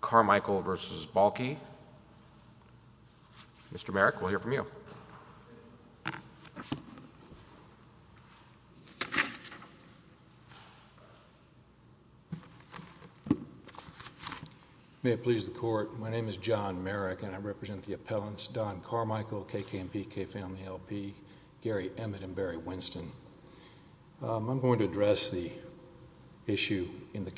Carmichael v. Balke. Mr. Merrick, we'll hear from you. May it please the court, my name is John Merrick and I represent the appellants Don Carmichael, KKMP, K-Family LP, Gary Emmett, and Barry Winston. I'm going to talk to you today about the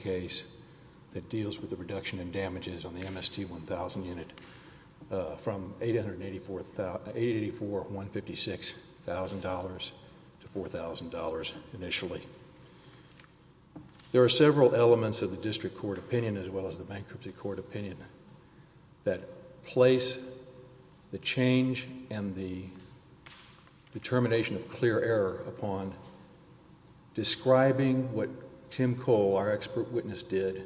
compensation and damages on the MST-1000 unit from $884,156 to $4,000 initially. There are several elements of the district court opinion as well as the bankruptcy court opinion that place the change and the determination of clear error upon describing what Tim Cole, our expert witness, did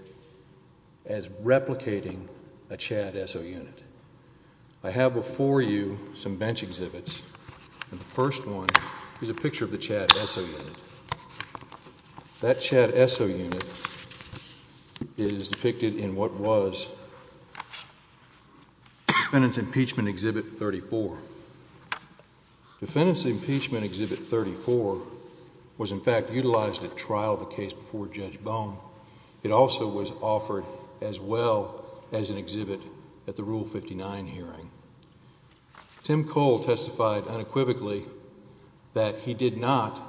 as replicating a Chad Esso unit. I have before you some bench exhibits. The first one is a picture of the Chad Esso unit. That Chad Esso unit is depicted in what was Defendant's Impeachment Exhibit 34. Defendant's Impeachment Exhibit 34 was in fact utilized at trial of the case before Judge Bone. It also was offered as well as an exhibit at the Rule 59 hearing. Tim Cole testified unequivocally that he did not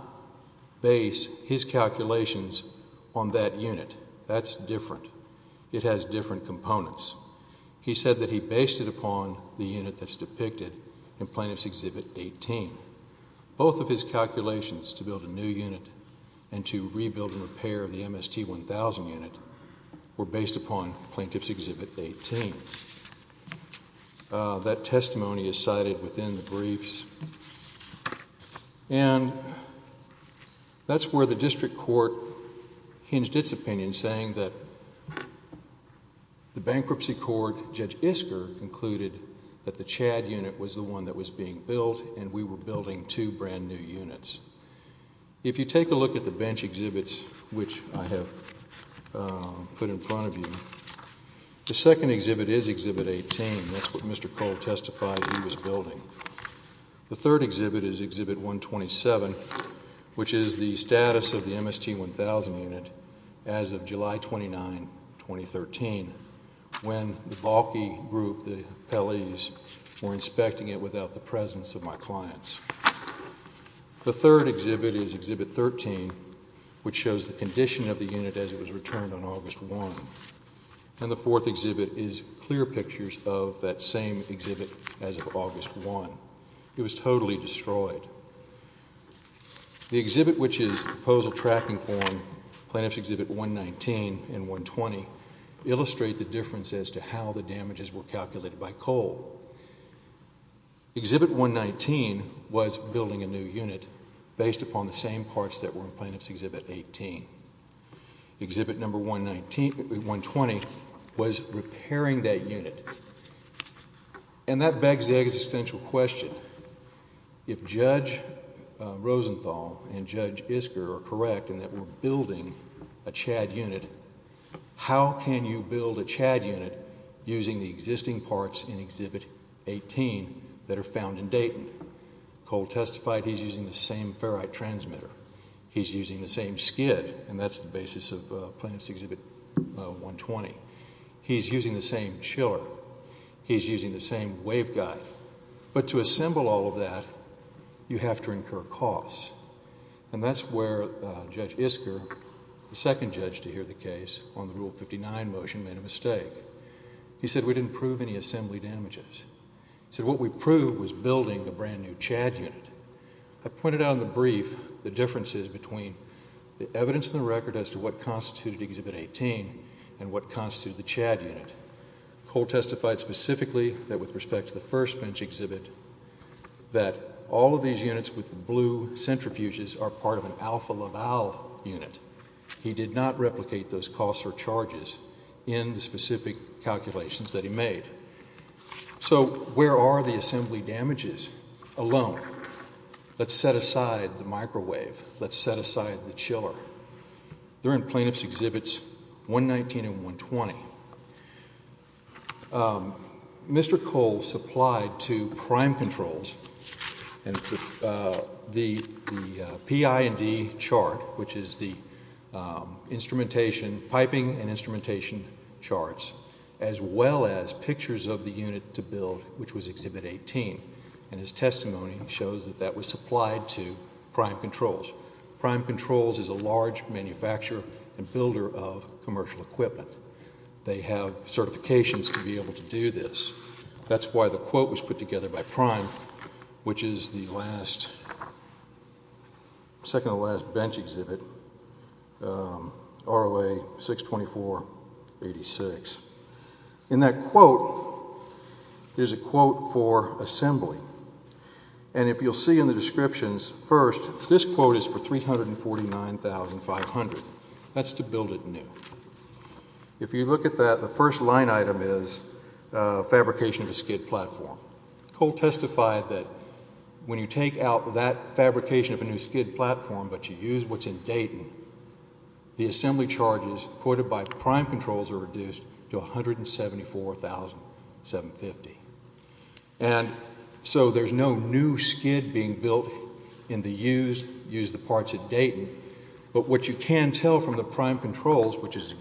base his calculations on that unit. That's different. It has different components. He said that he based it upon the unit that's depicted in Plaintiff's Exhibit 18. Both of his calculations to build a new unit and to rebuild and repair the MST-1000 unit were based upon Plaintiff's Exhibit 18. That testimony is cited within the briefs. And that's where the district court hinged its opinion saying that the bankruptcy court, Judge Isker, concluded that the Chad unit was the one that was being built and we were building two brand new units. If you take a look at the bench exhibits, which I have put in front of you, the second exhibit is Exhibit 18. That's what Mr. Cole testified he was building. The third exhibit is Exhibit 127, which is the status of the MST-1000 unit as of July 29, 2013, when the Bahlke group, the appellees, were inspecting it without the presence of my clients. The third exhibit is Exhibit 13, which shows the condition of the unit as it was returned on August 1. And the fourth exhibit is clear pictures of that same exhibit as of August 1. It was totally destroyed. The exhibit, which is Proposal Tracking Form, Plaintiff's Exhibit 119 and 120, illustrate the difference as to how the damages were calculated by Cole. Exhibit 119 was building a new unit based upon the same parts that were in Plaintiff's Exhibit 119. Exhibit 120 was repairing that unit. And that begs the existential question, if Judge Rosenthal and Judge Isker are correct in that we're building a CHAD unit, how can you build a CHAD unit using the existing parts in Exhibit 18 that are found in Dayton? Cole testified he's using the same ferrite transmitter. He's using the same skid, and that's the basis of Plaintiff's Exhibit 120. He's using the same chiller. He's using the same waveguide. But to assemble all of that, you have to incur costs. And that's where Judge Isker, the second judge to hear the case on the Rule 59 motion, made a mistake. He said we didn't prove any assembly damages. He said what we proved was building a brand new CHAD unit. I pointed out in the brief the differences between the evidence in the record as to what constituted Exhibit 18 and what constituted the CHAD unit. Cole testified specifically that with respect to the first bench exhibit that all of these units with the blue centrifuges are part of an Alpha Laval unit. He did not replicate those costs or charges in the specific calculations that he made. So where are the assembly damages alone? Let's set aside the microwave. Let's set aside the chiller. They're in Plaintiff's Exhibits 119 and 120. Mr. Cole supplied two prime controls and the PI&D chart, which is the instrumentation, piping and instrumentation charts, as well as pictures of the unit to build, which was Exhibit 18. And his testimony shows that that was supplied to Prime Controls. Prime Controls is a large manufacturer and builder of commercial equipment. They have certifications to be able to do this. That's why the quote was put together by Prime, which is the last, second to the last bench exhibit, ROA 624-86. In that quote, there's a quote for assembly. And if you'll see in the descriptions, first, this quote is for 349,500. That's to build it new. If you look at that, the first line item is fabrication of a SCID platform. Cole testified that when you take out that fabrication of a new SCID platform, but you use what's in Dayton, the assembly charges quoted by Prime Controls are reduced to 174,750. And so there's no new SCID being built in the used parts of Dayton. But what you can tell from the Prime Controls, which quote,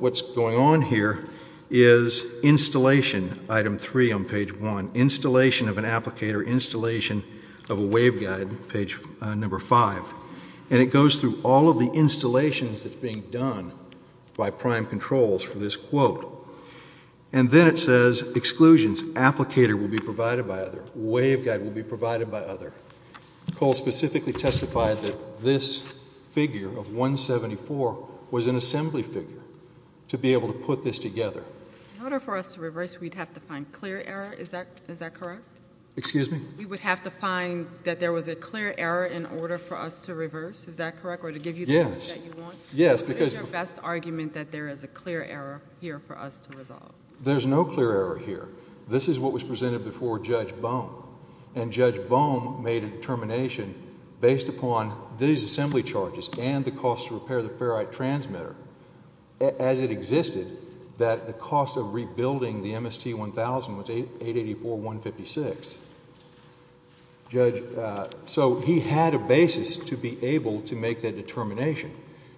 what's going on here is installation, item three on page one, installation of an applicator, installation of a waveguide, page number five. And it goes through all of the installations that's being done by Prime Controls for this quote. And then it says, exclusions, applicator will be provided by other, waveguide will be provided by other. Cole specifically testified that this figure of 174 was an assembly figure to be able to put this together. In order for us to reverse, we'd have to find clear error. Is that, is that correct? Excuse me? You would have to find that there was a clear error in order for us to reverse. Is that correct? Or to give you the one that you want? Yes. Yes, because What is your best argument that there is a clear error here for us to resolve? There's no clear error here. This is what was presented before Judge Bohm. And Judge Bohm made a determination based upon these assembly charges and the cost to repair the ferrite transmitter, as it existed, that the cost of rebuilding the MST-1000 was $884,156. Judge, so he had a basis to be able to make that determination.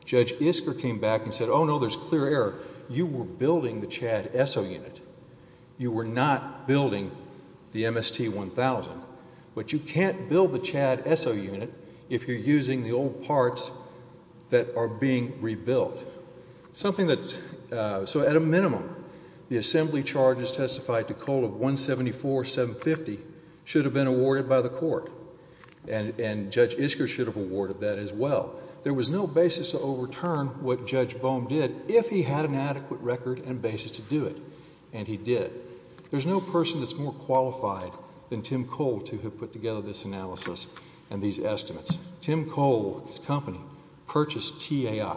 Judge Isker came back and said, oh, no, there's clear error. You were building the CHAD ESSO unit. You were not building the MST-1000. But you can't build the CHAD ESSO unit if you're using the old parts that are being rebuilt. Something that's, so at a minimum, the assembly charges testified to Cole of 174, 750 should have been awarded by the court. And Judge Isker should have awarded that as well. There was no basis to overturn what Judge Bohm did if he had an adequate record and basis to do it. And he did. There's no person that's more qualified than Tim Cole to have put together this analysis and these estimates. Tim Cole's company purchased TAI.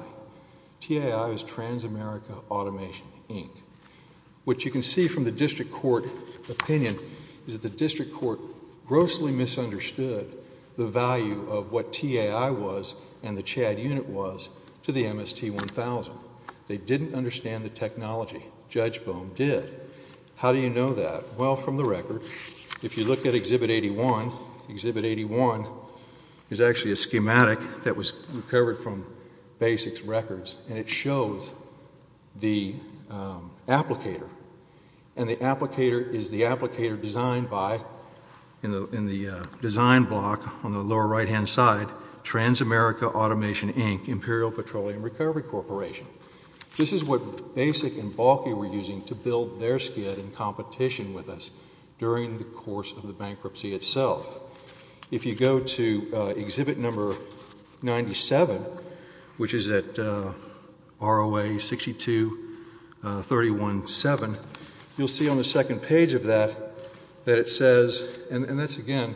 TAI is Transamerica Automation, Inc. What you can see from the district court opinion is that the district court grossly misunderstood the value of what TAI was and the CHAD unit was to the MST-1000. They didn't understand the technology. Judge Bohm did. How do you know that? Well, from the record, if you look at Exhibit 81, Exhibit 81 is actually a schematic that was recovered from Basics Records, and it shows the applicator. And the design block on the lower right-hand side, Transamerica Automation, Inc., Imperial Petroleum Recovery Corporation. This is what Basic and Bauke were using to build their skid in competition with us during the course of the bankruptcy itself. If you go to Exhibit Number 97, which is at ROA 62317, you'll see on the second page of that that it says and that's, again,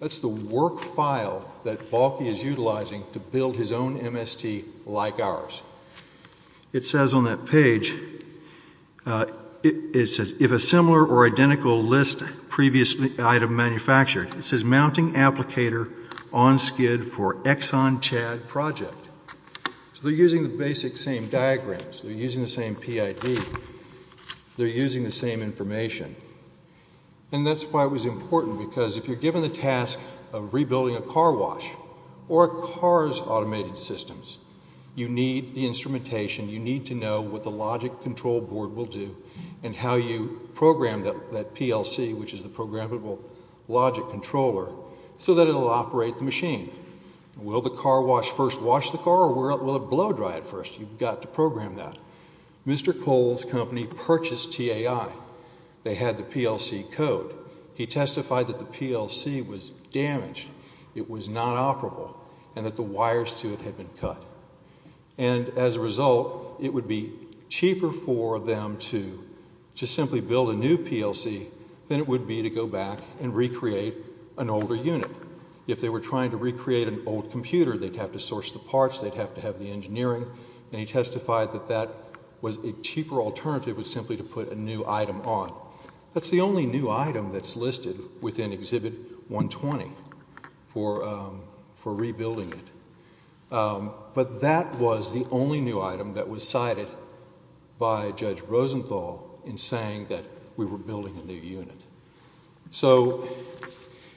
that's the work file that Bauke is utilizing to build his own MST like ours. It says on that page, if a similar or identical list previously item manufactured, it says mounting applicator on skid for Exxon CHAD project. So they're using the basic same diagrams. They're using the same PID. They're using the same information. And that's why it was important because if you're given the task of rebuilding a car wash or a car's automated systems, you need the instrumentation. You need to know what the logic control board will do and how you program that PLC, which is the programmable logic controller, so that it'll operate the machine. Will the car wash first wash the car or will it blow dry it first? You've got to program that. Mr. Cole's company purchased TAI. They had the PLC code. He testified that the PLC was damaged. It was not operable and that the wires to it had been cut. And as a result, it would be cheaper for them to simply build a new PLC than it would be to go back and recreate an older unit. If they were trying to recreate an old computer, they'd have to source the parts. They'd have to have the engineering. And he testified that that was a cheaper alternative was simply to put a new item on. That's the only new item that's listed within Exhibit 120 for rebuilding it. But that was the only new item that was cited by Judge Rosenthal in saying that we were building a new unit. So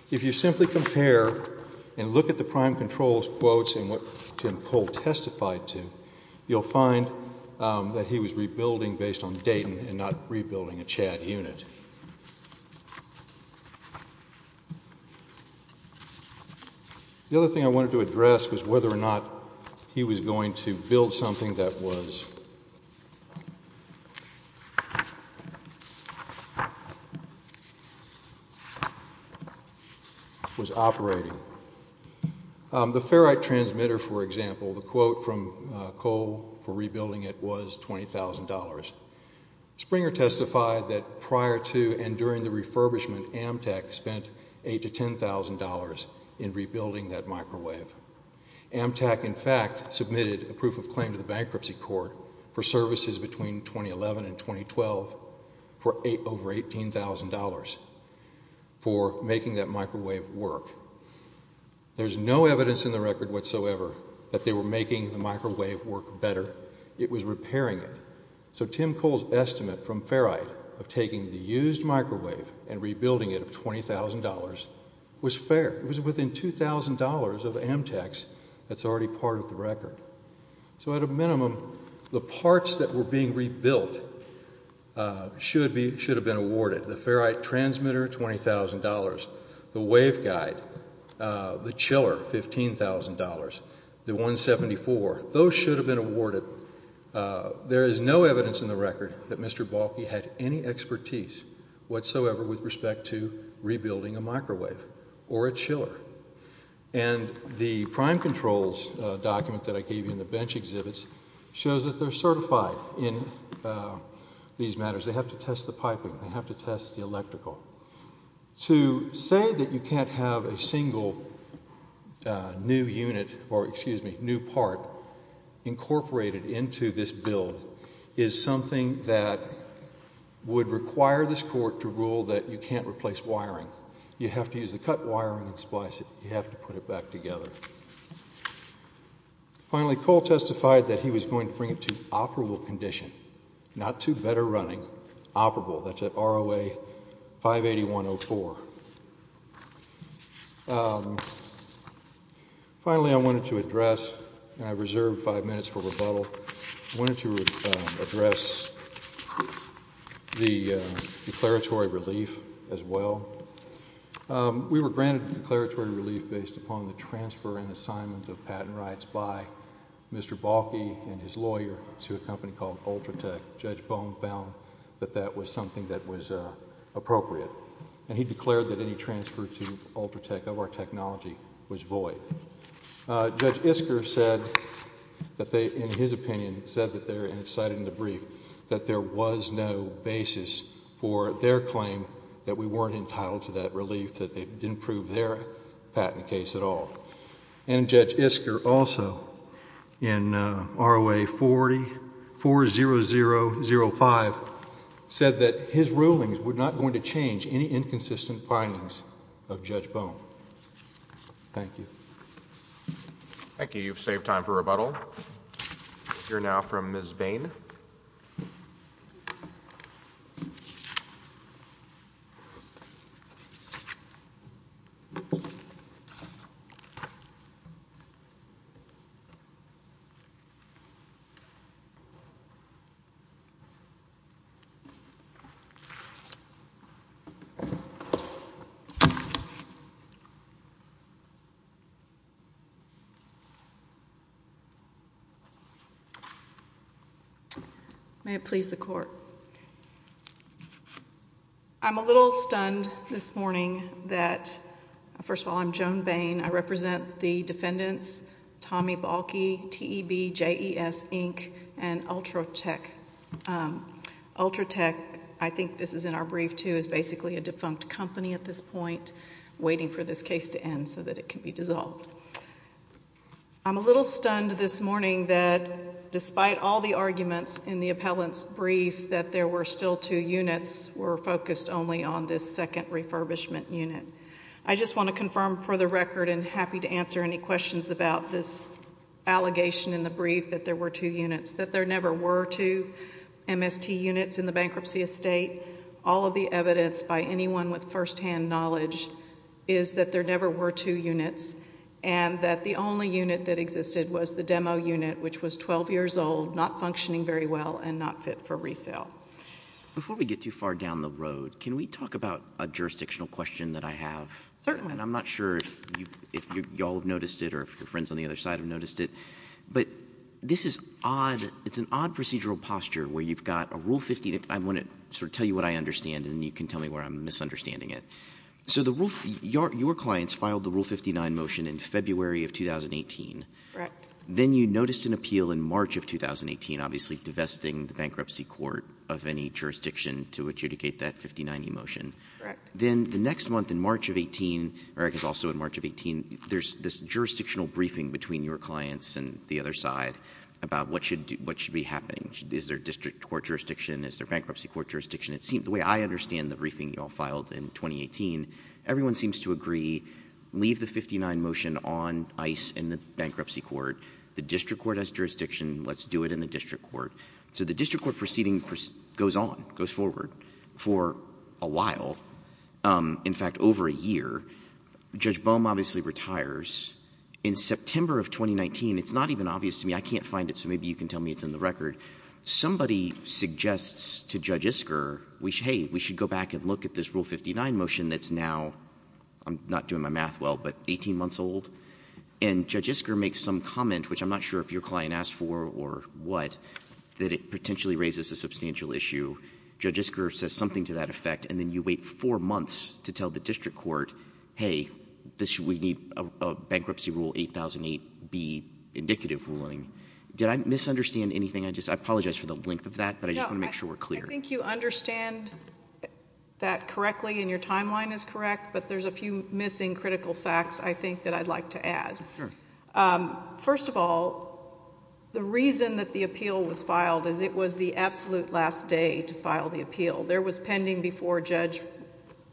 if you simply compare and look at the prime control quotes and what Tim Cole testified to, you'll find that he was rebuilding based on Dayton and not rebuilding a Chad unit. The other thing I wanted to address was whether or not he was going to build something that was operating. The ferrite transmitter, for example, the Springer testified that prior to and during the refurbishment, Amtrak spent $8,000 to $10,000 in rebuilding that microwave. Amtrak, in fact, submitted a proof of claim to the bankruptcy court for services between 2011 and 2012 for over $18,000 for making that microwave work. There's no evidence in the record whatsoever that they were making the of taking the used microwave and rebuilding it of $20,000 was fair. It was within $2,000 of Amtrak's that's already part of the record. So at a minimum, the parts that were being rebuilt should have been awarded. The ferrite transmitter, $20,000. The waveguide, the chiller, $15,000. The 174, those should have been awarded. There is no evidence in the record that Mr. Balke had any expertise whatsoever with respect to rebuilding a microwave or a chiller. And the prime controls document that I gave you in the bench exhibits shows that they're certified in these matters. They have to test the piping. They have to test the electrical. To say that you can't have a single new unit or, excuse me, new part incorporated into this build is something that would require this court to rule that you can't replace wiring. You have to use the cut wiring and splice it. You have to put it back together. Finally, Cole testified that he was going to bring it to operable condition, not to better running, operable. That's at ROA 58104. Finally, I wanted to reserve five minutes for rebuttal. I wanted to address the declaratory relief as well. We were granted declaratory relief based upon the transfer and assignment of patent rights by Mr. Balke and his lawyer to a company called Ultratech. Judge Bone found that that was something that was appropriate. And he declared that any transfer to Ultratech of our technology was void. Judge Isker said that they, in his opinion, said that there, and it's cited in the brief, that there was no basis for their claim that we weren't entitled to that relief, that they didn't prove their patent case at all. And Judge Isker also, in ROA 440005, said that his rulings were not going to change any inconsistent findings of Judge Bone. Thank you. Thank you. You've saved time for rebuttal. You're now from Ms. Bain. May it please the court. I'm a little stunned this morning that, first of all, I'm Joan Bain. I represent the defendants, Tommy Balke, TEB, JES, Inc., and Ultratech. Ultratech, I think this is in our brief, too, is basically a defunct company at this point, waiting for this case to end so that it can be dissolved. I'm a little stunned this morning that, despite all the arguments in the appellant's brief that there were still two units, were focused only on this second refurbishment unit. I just want to confirm for the record and happy to answer any questions about this allegation in the brief that there were two units, that there never were two MST units in the bankruptcy estate. All of the evidence by anyone with firsthand knowledge is that there never were two units and that the only unit that existed was the demo unit, which was 12 years old, not functioning very well, and not fit for resale. Before we get too far down the road, can we talk about a jurisdictional question that I have? Certainly. And I'm not sure if you all have noticed it or if your friends on the other side have But this is odd. It's an odd procedural posture where you've got a Rule 59. I want to sort of tell you what I understand, and then you can tell me where I'm misunderstanding it. So the Rule — your clients filed the Rule 59 motion in February of 2018. Correct. Then you noticed an appeal in March of 2018, obviously divesting the bankruptcy court of any jurisdiction to adjudicate that 59E motion. Correct. Then the next month, in March of 18 — Eric is also in March of 18 — there's this about what should be happening. Is there a district court jurisdiction? Is there a bankruptcy court jurisdiction? The way I understand the briefing you all filed in 2018, everyone seems to agree, leave the 59 motion on ice in the bankruptcy court. The district court has jurisdiction. Let's do it in the district court. So the district court proceeding goes on, goes forward, for a while. In fact, over a In September of 2019, it's not even obvious to me. I can't find it, so maybe you can tell me it's in the record. Somebody suggests to Judge Isker, hey, we should go back and look at this Rule 59 motion that's now — I'm not doing my math well — but 18 months old. And Judge Isker makes some comment, which I'm not sure if your client asked for or what, that it potentially raises a substantial issue. Judge Isker says something to that effect, and then you wait four months to tell the district court, hey, this should — we need a Bankruptcy Rule 8008B indicative ruling. Did I misunderstand anything? I apologize for the length of that, but I just want to make sure we're clear. I think you understand that correctly, and your timeline is correct, but there's a few missing critical facts, I think, that I'd like to add. Sure. First of all, the reason that the appeal was filed is it was the absolute last day to file the appeal. There was pending before Judge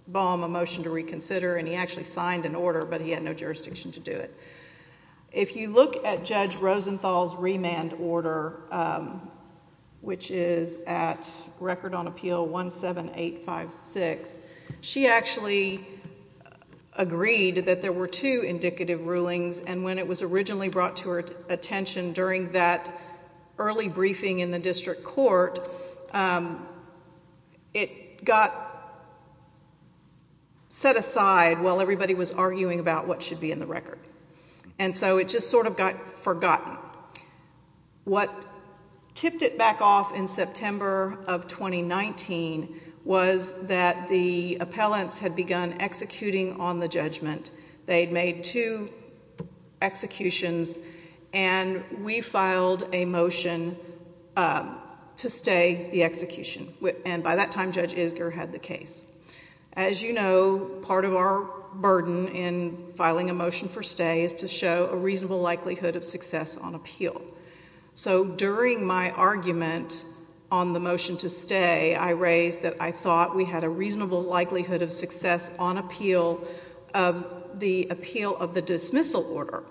Baum a motion to reconsider, and he actually signed an order, but he had no jurisdiction to do it. If you look at Judge Rosenthal's remand order, which is at Record on Appeal 17856, she actually agreed that there were two indicative rulings, and when it was originally brought to her attention during that early briefing in the district court, it got set aside while everybody was arguing about what should be in the record, and so it just sort of got forgotten. What tipped it back off in September of 2019 was that the appellants had begun executing on the judgment. They had made two executions, and we filed a motion to stay the execution, and by that time, Judge Isger had the case. As you know, part of our burden in filing a motion for stay is to show a reasonable likelihood of success on appeal. So during my argument on the motion to stay, I raised that I thought we had a reasonable likelihood of success on appeal of the appeal of the dismissal order,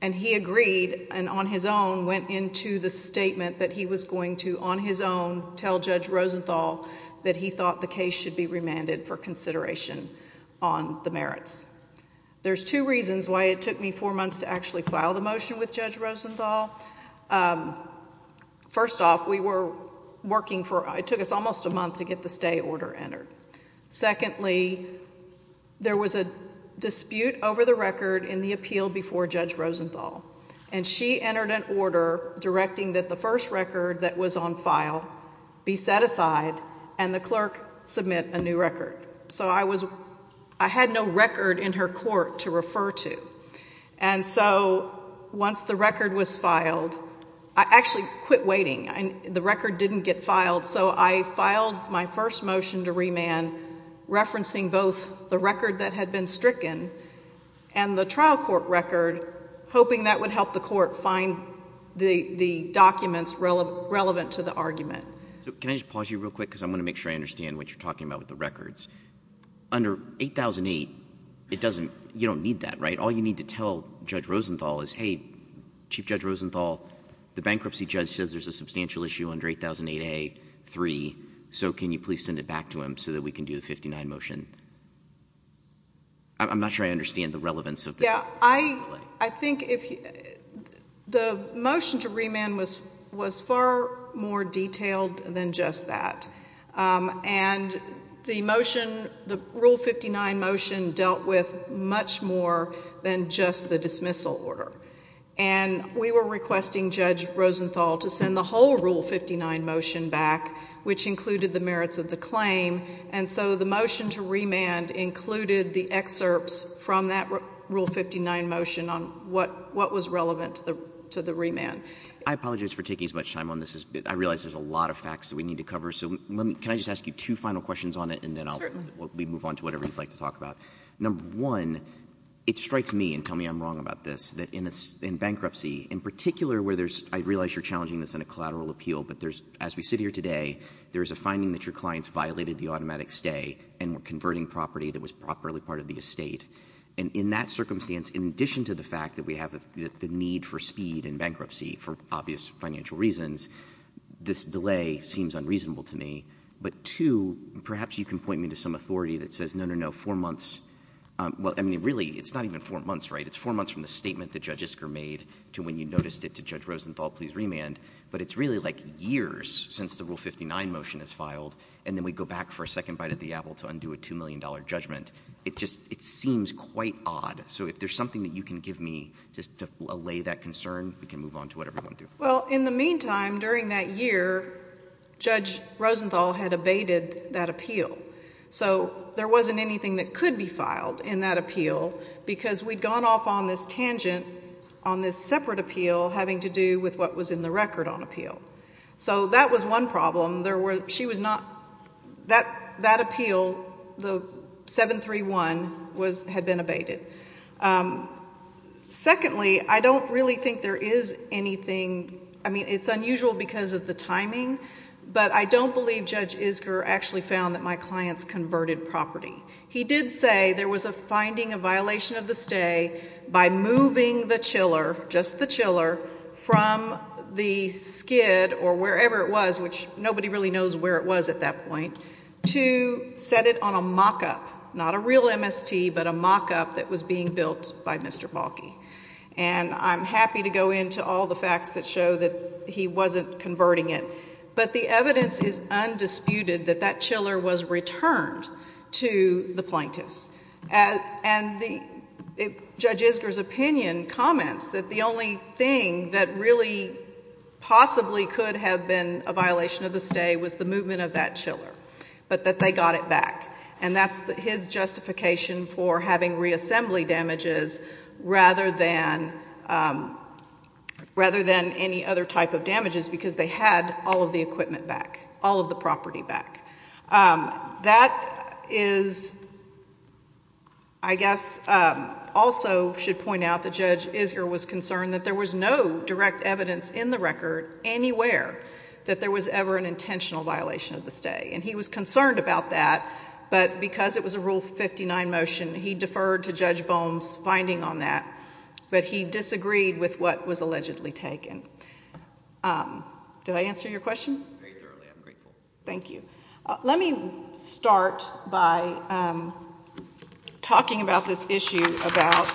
and he agreed and on his own went into the statement that he was going to on his own tell Judge Rosenthal that he thought the case should be remanded for consideration on the merits. There's two reasons why it took me four months to actually file the motion with Judge Secondly, there was a dispute over the record in the appeal before Judge Rosenthal, and she entered an order directing that the first record that was on file be set aside and the clerk submit a new record. So I had no record in her court to refer to, and so once the record was filed, I actually filed my first motion to remand, referencing both the record that had been stricken and the trial court record, hoping that would help the court find the documents relevant to the argument. So can I just pause you real quick because I want to make sure I understand what you're talking about with the records. Under 8008, you don't need that, right? All you need to tell Judge Rosenthal is, hey, Chief Judge Rosenthal, the bankruptcy judge says there's a substantial issue under 8008A.3, so can you please send it back to him so that we can do the 59 motion? I'm not sure I understand the relevance of that. Yeah. I think if the motion to remand was far more detailed than just that, and the motion, the Rule 59 motion, dealt with much more than just the dismissal order. And we were requesting Judge Rosenthal to send the whole Rule 59 motion back, which included the merits of the claim, and so the motion to remand included the excerpts from that Rule 59 motion on what was relevant to the remand. I apologize for taking as much time on this. I realize there's a lot of facts that we need to cover, so can I just ask you two final questions on it, and then we'll move on to whatever you'd like to talk about. Certainly. Number one, it strikes me, and tell me I'm wrong about this, that in bankruptcy, in particular where there's, I realize you're challenging this in a collateral appeal, but there's, as we sit here today, there's a finding that your clients violated the automatic stay and were converting property that was properly part of the estate. And in that circumstance, in addition to the fact that we have the need for speed in bankruptcy for obvious financial reasons, this delay seems unreasonable to me. But two, perhaps you can point me to some authority that says, no, no, no, four months, well, I mean, really, it's not even four months, right? It's four months from the statement that Judge Isker made to when you noticed it to Judge Rosenthal, please remand. But it's really like years since the Rule 59 motion is filed, and then we go back for a second bite of the apple to undo a $2 million judgment. It just, it seems quite odd. So if there's something that you can give me just to allay that concern, we can move on to whatever you want to do. Well, in the meantime, during that year, Judge Rosenthal had abated that appeal. So there wasn't anything that could be filed in that appeal because we'd gone off on this tangent on this separate appeal having to do with what was in the record on appeal. So that was one problem. There were, she was not, that appeal, the 731, was, had been abated. Secondly, I don't really think there is anything, I mean, it's unusual because of the timing, but I don't believe Judge Isker actually found that my client's converted property. He did say there was a finding of violation of the stay by moving the chiller, just the chiller, from the skid or wherever it was, which nobody really knows where it was at that point, to set it on a mock-up, not a real MST, but a mock-up that was being built by Mr. Balki. And I'm happy to go into all the facts that show that he wasn't converting it. But the evidence is undisputed that that chiller was returned to the plaintiffs. And Judge Isker's opinion comments that the only thing that really possibly could have been a violation of the stay was the movement of that chiller, but that they got it back. And that's his justification for having reassembly damages rather than any other type of damages because they had all of the equipment back, all of the property back. That is, I guess, also should point out that Judge Isker was concerned that there was no direct evidence in the record anywhere that there was ever an intentional violation of the stay. And he was concerned about that, but because it was a Rule 59 motion, he deferred to Judge Bohm's finding on that. But he disagreed with what was allegedly taken. Did I answer your question? Very thoroughly. I'm grateful. Thank you. Let me start by talking about this issue about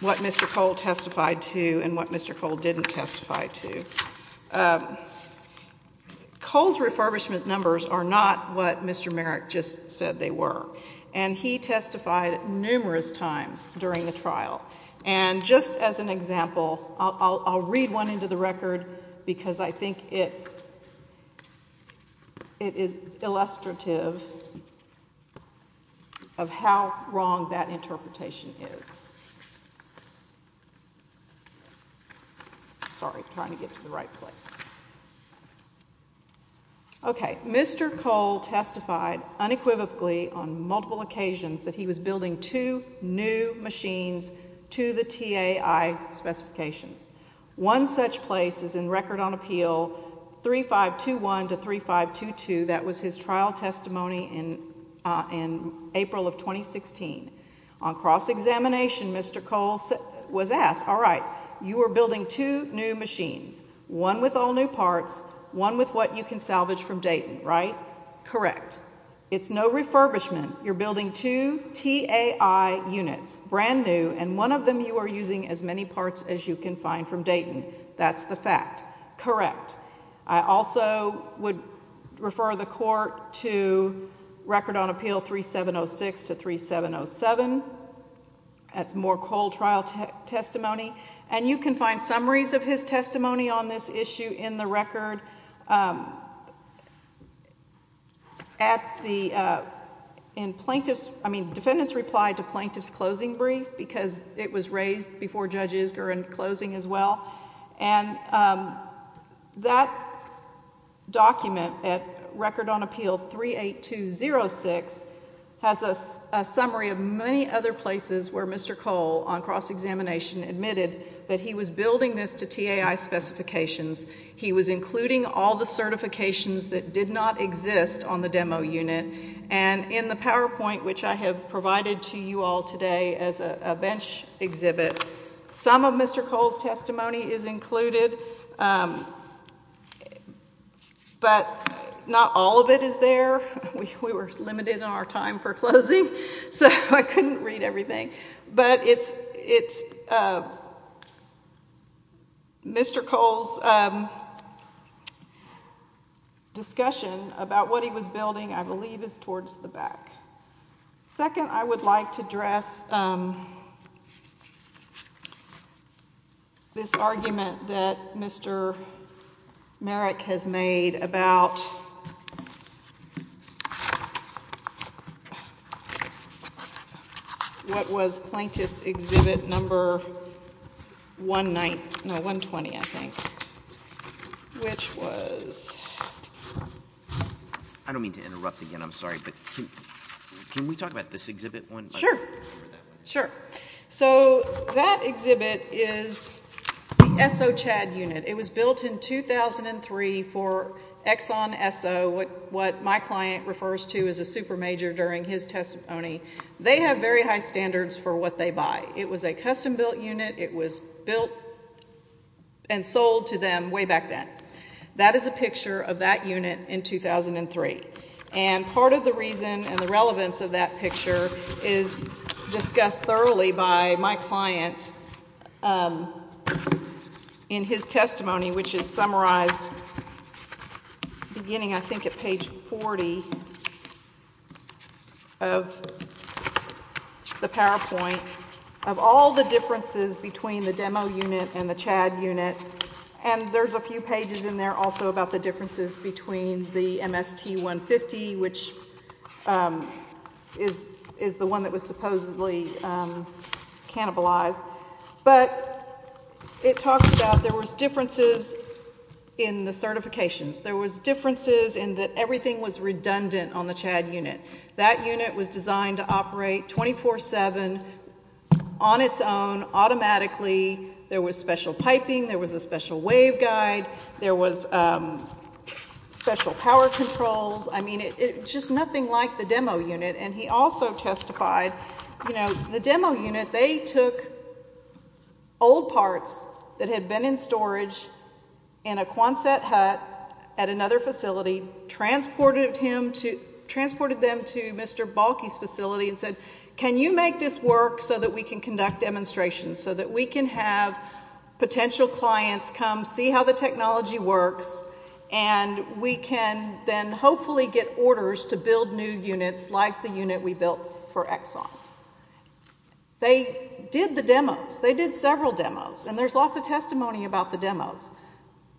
what Mr. Cole testified to and what Mr. Cole didn't testify to. Cole's refurbishment numbers are not what Mr. Merrick just said they were. And he testified numerous times during the trial. And just as an example, I'll read one into the record because I think it is illustrative of how wrong that interpretation is. Sorry. Trying to get to the right place. Okay. Mr. Cole testified unequivocally on multiple occasions that he was building two new machines to the TAI specifications. One such place is in Record on Appeal 3521 to 3522. That was his trial testimony in April of 2016. On cross-examination, Mr. Cole was asked, all right, you were building two new machines, one with all new parts, one with what you can salvage from Dayton, right? Correct. It's no refurbishment. You're building two TAI units, brand new, and one of them you are using as many parts as you can find from Dayton. That's the fact. Correct. I also would refer the Court to Record on Appeal 3706 to 3707. That's more Cole trial testimony. And you can find summaries of his testimony on this issue in the record. At the plaintiff's, I mean, defendants replied to plaintiff's closing brief because it was raised before Judge Isger in closing as well. And that document at Record on Appeal 38206 has a summary of many other places where Mr. Cole on cross-examination admitted that he was building this to TAI specifications. He was including all the certifications that did not exist on the demo unit. And in the PowerPoint, which I have provided to you all today as a bench exhibit, some of Mr. Cole's testimony is included, but not all of it is there. We were limited in our time for closing, so I couldn't read everything. But it's Mr. Cole's discussion about what he was building, I believe, is towards the back. Second, I would like to address this argument that Mr. Merrick has made about what was Plaintiff's Exhibit Number 120, I think, which was I don't mean to interrupt again, I'm sorry, but can we talk about this exhibit? Sure, sure. So that exhibit is the SOChad unit. It was built in 2003 for Exxon SO, what my client refers to as a super major during his testimony. They have very high standards for what they buy. It was a custom-built unit. It was built and sold to them way back then. That is a picture of that unit in 2003. And part of the reason and the relevance of that picture is discussed thoroughly by my client in his testimony, which is summarized beginning, I think, at page 40 of the PowerPoint of all the differences between the demo unit and the CHAD unit. And there's a few pages in there also about the differences between the MST-150, which is the one that was supposedly cannibalized. But it talks about there was differences in the certifications. There was differences in that everything was redundant on the CHAD unit. That unit was designed to operate 24-7 on its own automatically. There was special piping. There was a special waveguide. There was special power controls. I mean, just nothing like the demo unit. And he also testified, you know, the demo unit, they took old parts that had been in storage in a Quonset hut at another facility, transported them to Mr. Balky's facility and said, Can you make this work so that we can conduct demonstrations, so that we can have potential clients come see how the technology works and we can then hopefully get orders to build new units like the unit we built for Exxon. They did the demos. They did several demos. And there's lots of testimony about the demos.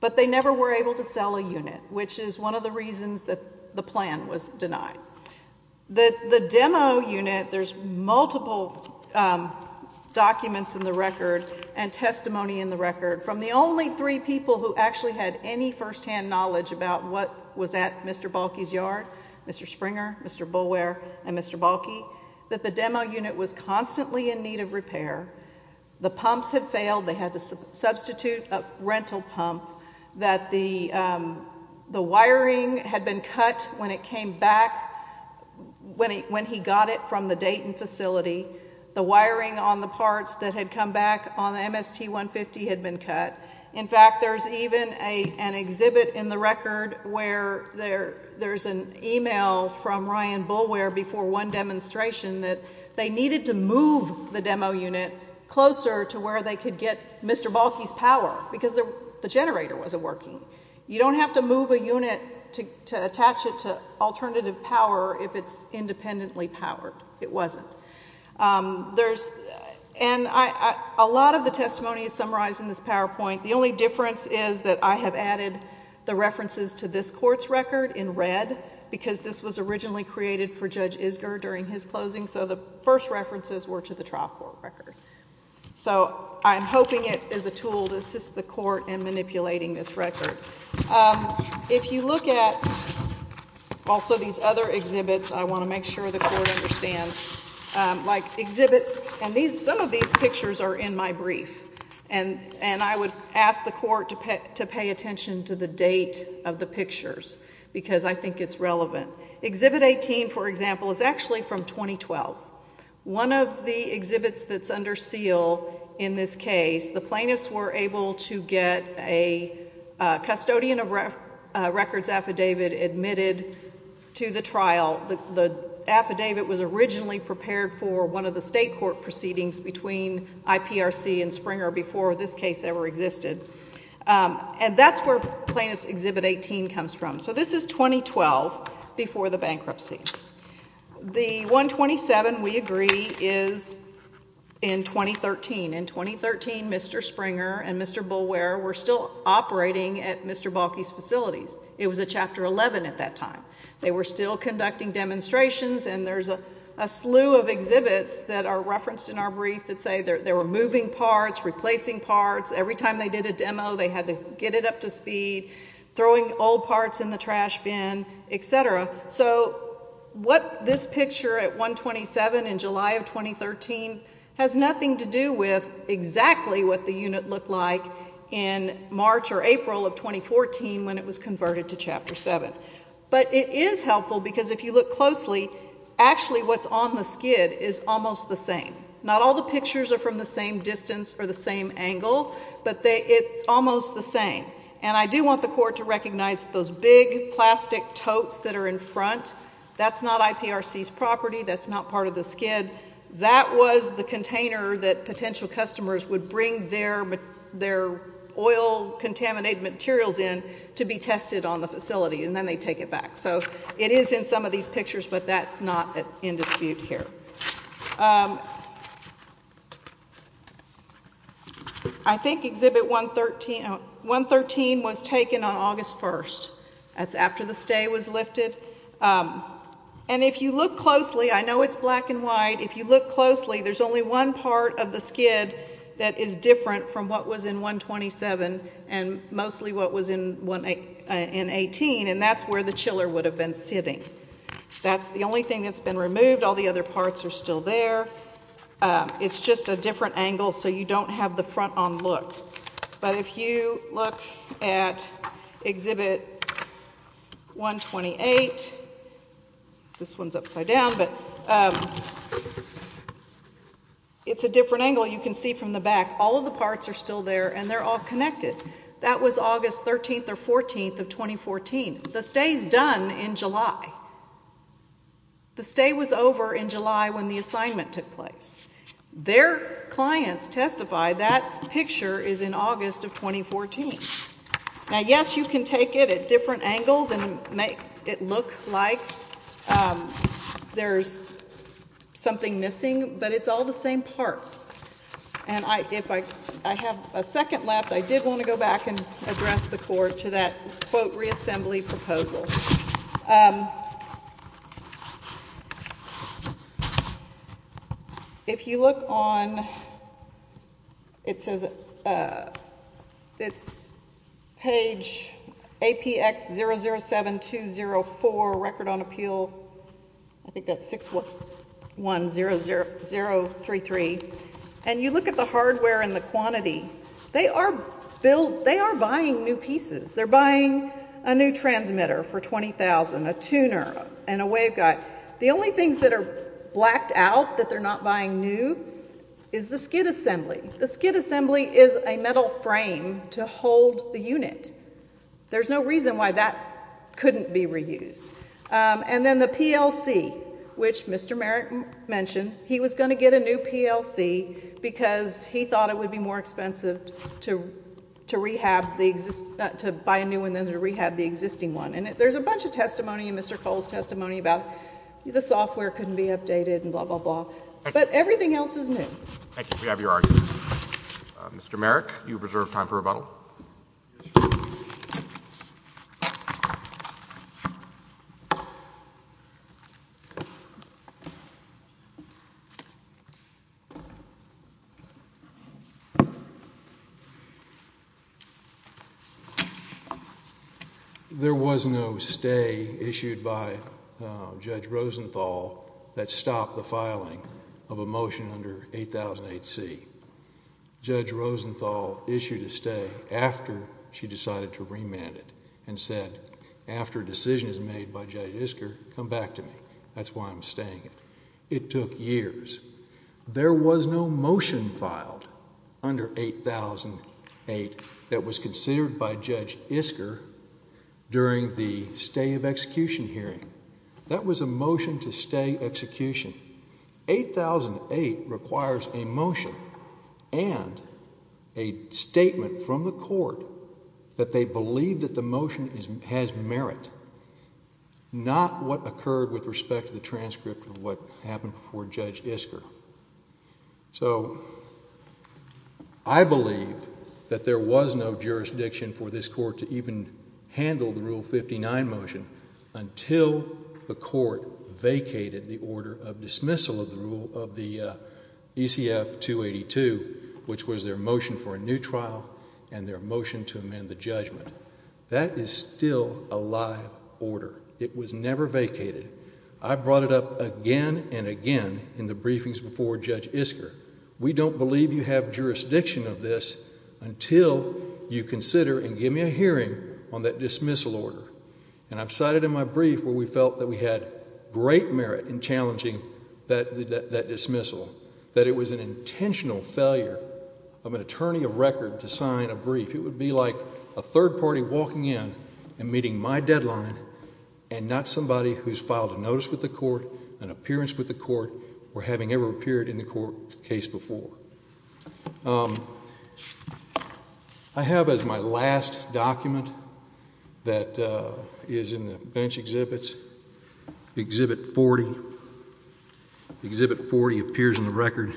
But they never were able to sell a unit, which is one of the reasons that the plan was denied. The demo unit, there's multiple documents in the record and testimony in the record. From the only three people who actually had any firsthand knowledge about what was at Mr. Balky's yard, Mr. Springer, Mr. Boulware, and Mr. Balky, that the demo unit was constantly in need of repair. The pumps had failed. They had to substitute a rental pump. The wiring had been cut when it came back, when he got it from the Dayton facility. The wiring on the parts that had come back on the MST-150 had been cut. In fact, there's even an exhibit in the record where there's an email from Ryan Boulware before one demonstration that they needed to move the demo unit closer to where they could get Mr. Balky's power, because the generator wasn't working. You don't have to move a unit to attach it to alternative power if it's independently powered. It wasn't. And a lot of the testimony is summarized in this PowerPoint. The only difference is that I have added the references to this court's record in red, because this was originally created for Judge Isger during his closing, so the first references were to the trial court record. So I'm hoping it is a tool to assist the court in manipulating this record. If you look at also these other exhibits, I want to make sure the court understands, like exhibit, and some of these pictures are in my brief, and I would ask the court to pay attention to the date of the pictures, because I think it's relevant. Exhibit 18, for example, is actually from 2012. One of the exhibits that's under seal in this case, the plaintiffs were able to get a custodian of records affidavit admitted to the trial. The affidavit was originally prepared for one of the state court proceedings between IPRC and Springer before this case ever existed. And that's where plaintiff's exhibit 18 comes from. So this is 2012, before the bankruptcy. The 127, we agree, is in 2013. In 2013, Mr. Springer and Mr. Bulwer were still operating at Mr. Balky's facilities. It was a Chapter 11 at that time. They were still conducting demonstrations, and there's a slew of exhibits that are referenced in our brief that say they were moving parts, replacing parts. Every time they did a demo, they had to get it up to speed, throwing old parts in the trash bin, et cetera. So what this picture at 127 in July of 2013 has nothing to do with exactly what the unit looked like in March or April of 2014 when it was converted to Chapter 7. But it is helpful because if you look closely, actually what's on the skid is almost the same. Not all the pictures are from the same distance or the same angle, but it's almost the same. And I do want the Court to recognize those big plastic totes that are in front. That's not IPRC's property. That's not part of the skid. That was the container that potential customers would bring their oil-contaminated materials in to be tested on the facility, and then they'd take it back. So it is in some of these pictures, but that's not in dispute here. I think Exhibit 113 was taken on August 1st. That's after the stay was lifted. And if you look closely, I know it's black and white. If you look closely, there's only one part of the skid that is different from what was in 127 and mostly what was in 18, and that's where the chiller would have been sitting. That's the only thing that's been removed. All the other parts are still there. It's just a different angle, so you don't have the front-on look. But if you look at Exhibit 128, this one's upside down, but it's a different angle. You can see from the back, all of the parts are still there, and they're all connected. That was August 13th or 14th of 2014. The stay's done in July. The stay was over in July when the assignment took place. Their clients testify that picture is in August of 2014. Now, yes, you can take it at different angles and make it look like there's something missing, but it's all the same parts. And if I have a second left, I did want to go back and address the Court to that, quote, If you look on page APX007204, Record on Appeal, I think that's 610033, and you look at the hardware and the quantity, they are buying new pieces. They're buying a new transmitter for $20,000, a tuner, and a wave guide. The only things that are blacked out that they're not buying new is the skid assembly. The skid assembly is a metal frame to hold the unit. There's no reason why that couldn't be reused. And then the PLC, which Mr. Merrick mentioned, he was going to get a new PLC because he thought it would be more expensive to buy a new one than to rehab the existing one. And there's a bunch of testimony in Mr. Cole's testimony about the software couldn't be updated and blah, blah, blah. But everything else is new. Thank you. We have your argument. Mr. Merrick, you have reserved time for rebuttal. There was no stay issued by Judge Rosenthal that stopped the filing of a motion under 8008C. Judge Rosenthal issued a stay after she decided to remand it and said, after a decision is made by Judge Isker, come back to me. That's why I'm staying it. It took years. There was no motion filed under 8008 that was considered by Judge Isker during the stay of execution hearing. That was a motion to stay execution. 8008 requires a motion and a statement from the court that they believe that the motion has merit, not what occurred with respect to the transcript of what happened before Judge Isker. So I believe that there was no jurisdiction for this court to even handle the Rule 59 motion until the court vacated the order of dismissal of the ECF 282, which was their motion for a new trial and their motion to amend the judgment. That is still a live order. It was never vacated. I brought it up again and again in the briefings before Judge Isker. We don't believe you have jurisdiction of this until you consider and give me a hearing on that dismissal order. And I've cited in my brief where we felt that we had great merit in challenging that dismissal, that it was an intentional failure of an attorney of record to sign a brief. It would be like a third party walking in and meeting my deadline and not somebody who's filed a notice with the court, an appearance with the court, or having ever appeared in the court case before. I have as my last document that is in the bench exhibits, Exhibit 40. Exhibit 40 appears in the record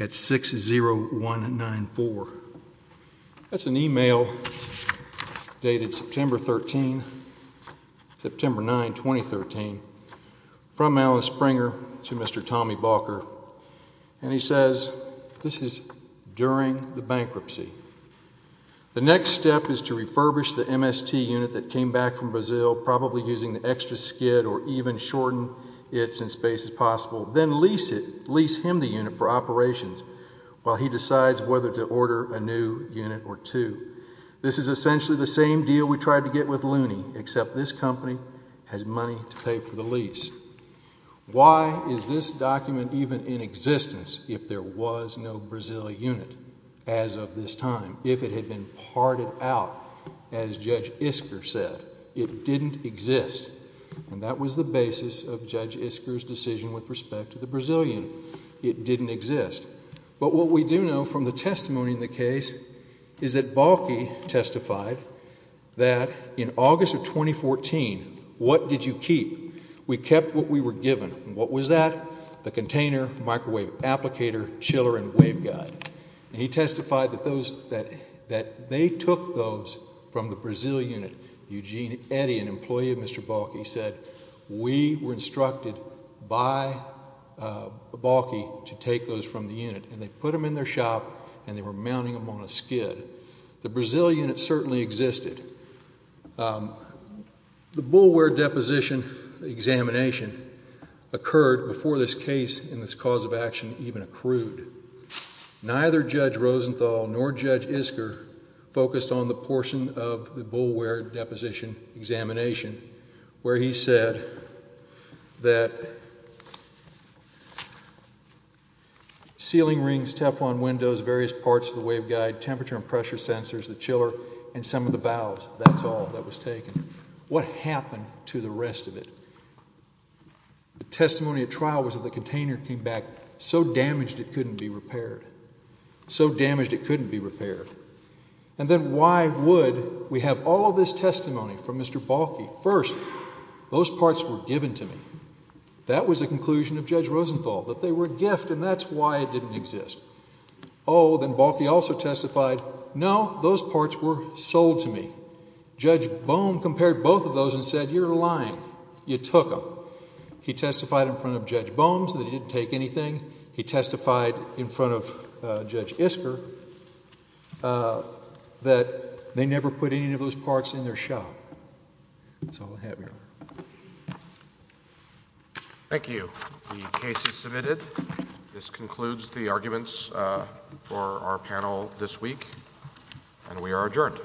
at 60194. That's an e-mail dated September 9, 2013, from Alan Springer to Mr. Tommy Balker, and he says this is during the bankruptcy. The next step is to refurbish the MST unit that came back from Brazil, probably using the extra skid or even shorten it in space as possible, then lease him the unit for operations while he decides whether to order a new unit or two. This is essentially the same deal we tried to get with Looney, except this company has money to pay for the lease. Why is this document even in existence if there was no Brazilian unit as of this time, if it had been parted out as Judge Isker said? It didn't exist, and that was the basis of Judge Isker's decision with respect to the Brazilian. It didn't exist. But what we do know from the testimony in the case is that Balky testified that in August of 2014, what did you keep? We kept what we were given. What was that? The container, microwave applicator, chiller, and waveguide. And he testified that they took those from the Brazil unit. Eugene Eddy, an employee of Mr. Balky, said, we were instructed by Balky to take those from the unit, and they put them in their shop and they were mounting them on a skid. The Brazil unit certainly existed. The bulware deposition examination occurred before this case and this cause of action even accrued. Neither Judge Rosenthal nor Judge Isker focused on the portion of the bulware deposition examination where he said that ceiling rings, Teflon windows, various parts of the waveguide, temperature and pressure sensors, the chiller, and some of the valves. That's all that was taken. What happened to the rest of it? The testimony at trial was that the container came back so damaged it couldn't be repaired. So damaged it couldn't be repaired. And then why would we have all of this testimony from Mr. Balky? First, those parts were given to me. That was the conclusion of Judge Rosenthal, that they were a gift, and that's why it didn't exist. Oh, then Balky also testified, no, those parts were sold to me. Judge Bohm compared both of those and said, you're lying. You took them. He testified in front of Judge Bohm that he didn't take anything. He testified in front of Judge Isker that they never put any of those parts in their shop. That's all I have here. Thank you. The case is submitted. This concludes the arguments for our panel this week, and we are adjourned.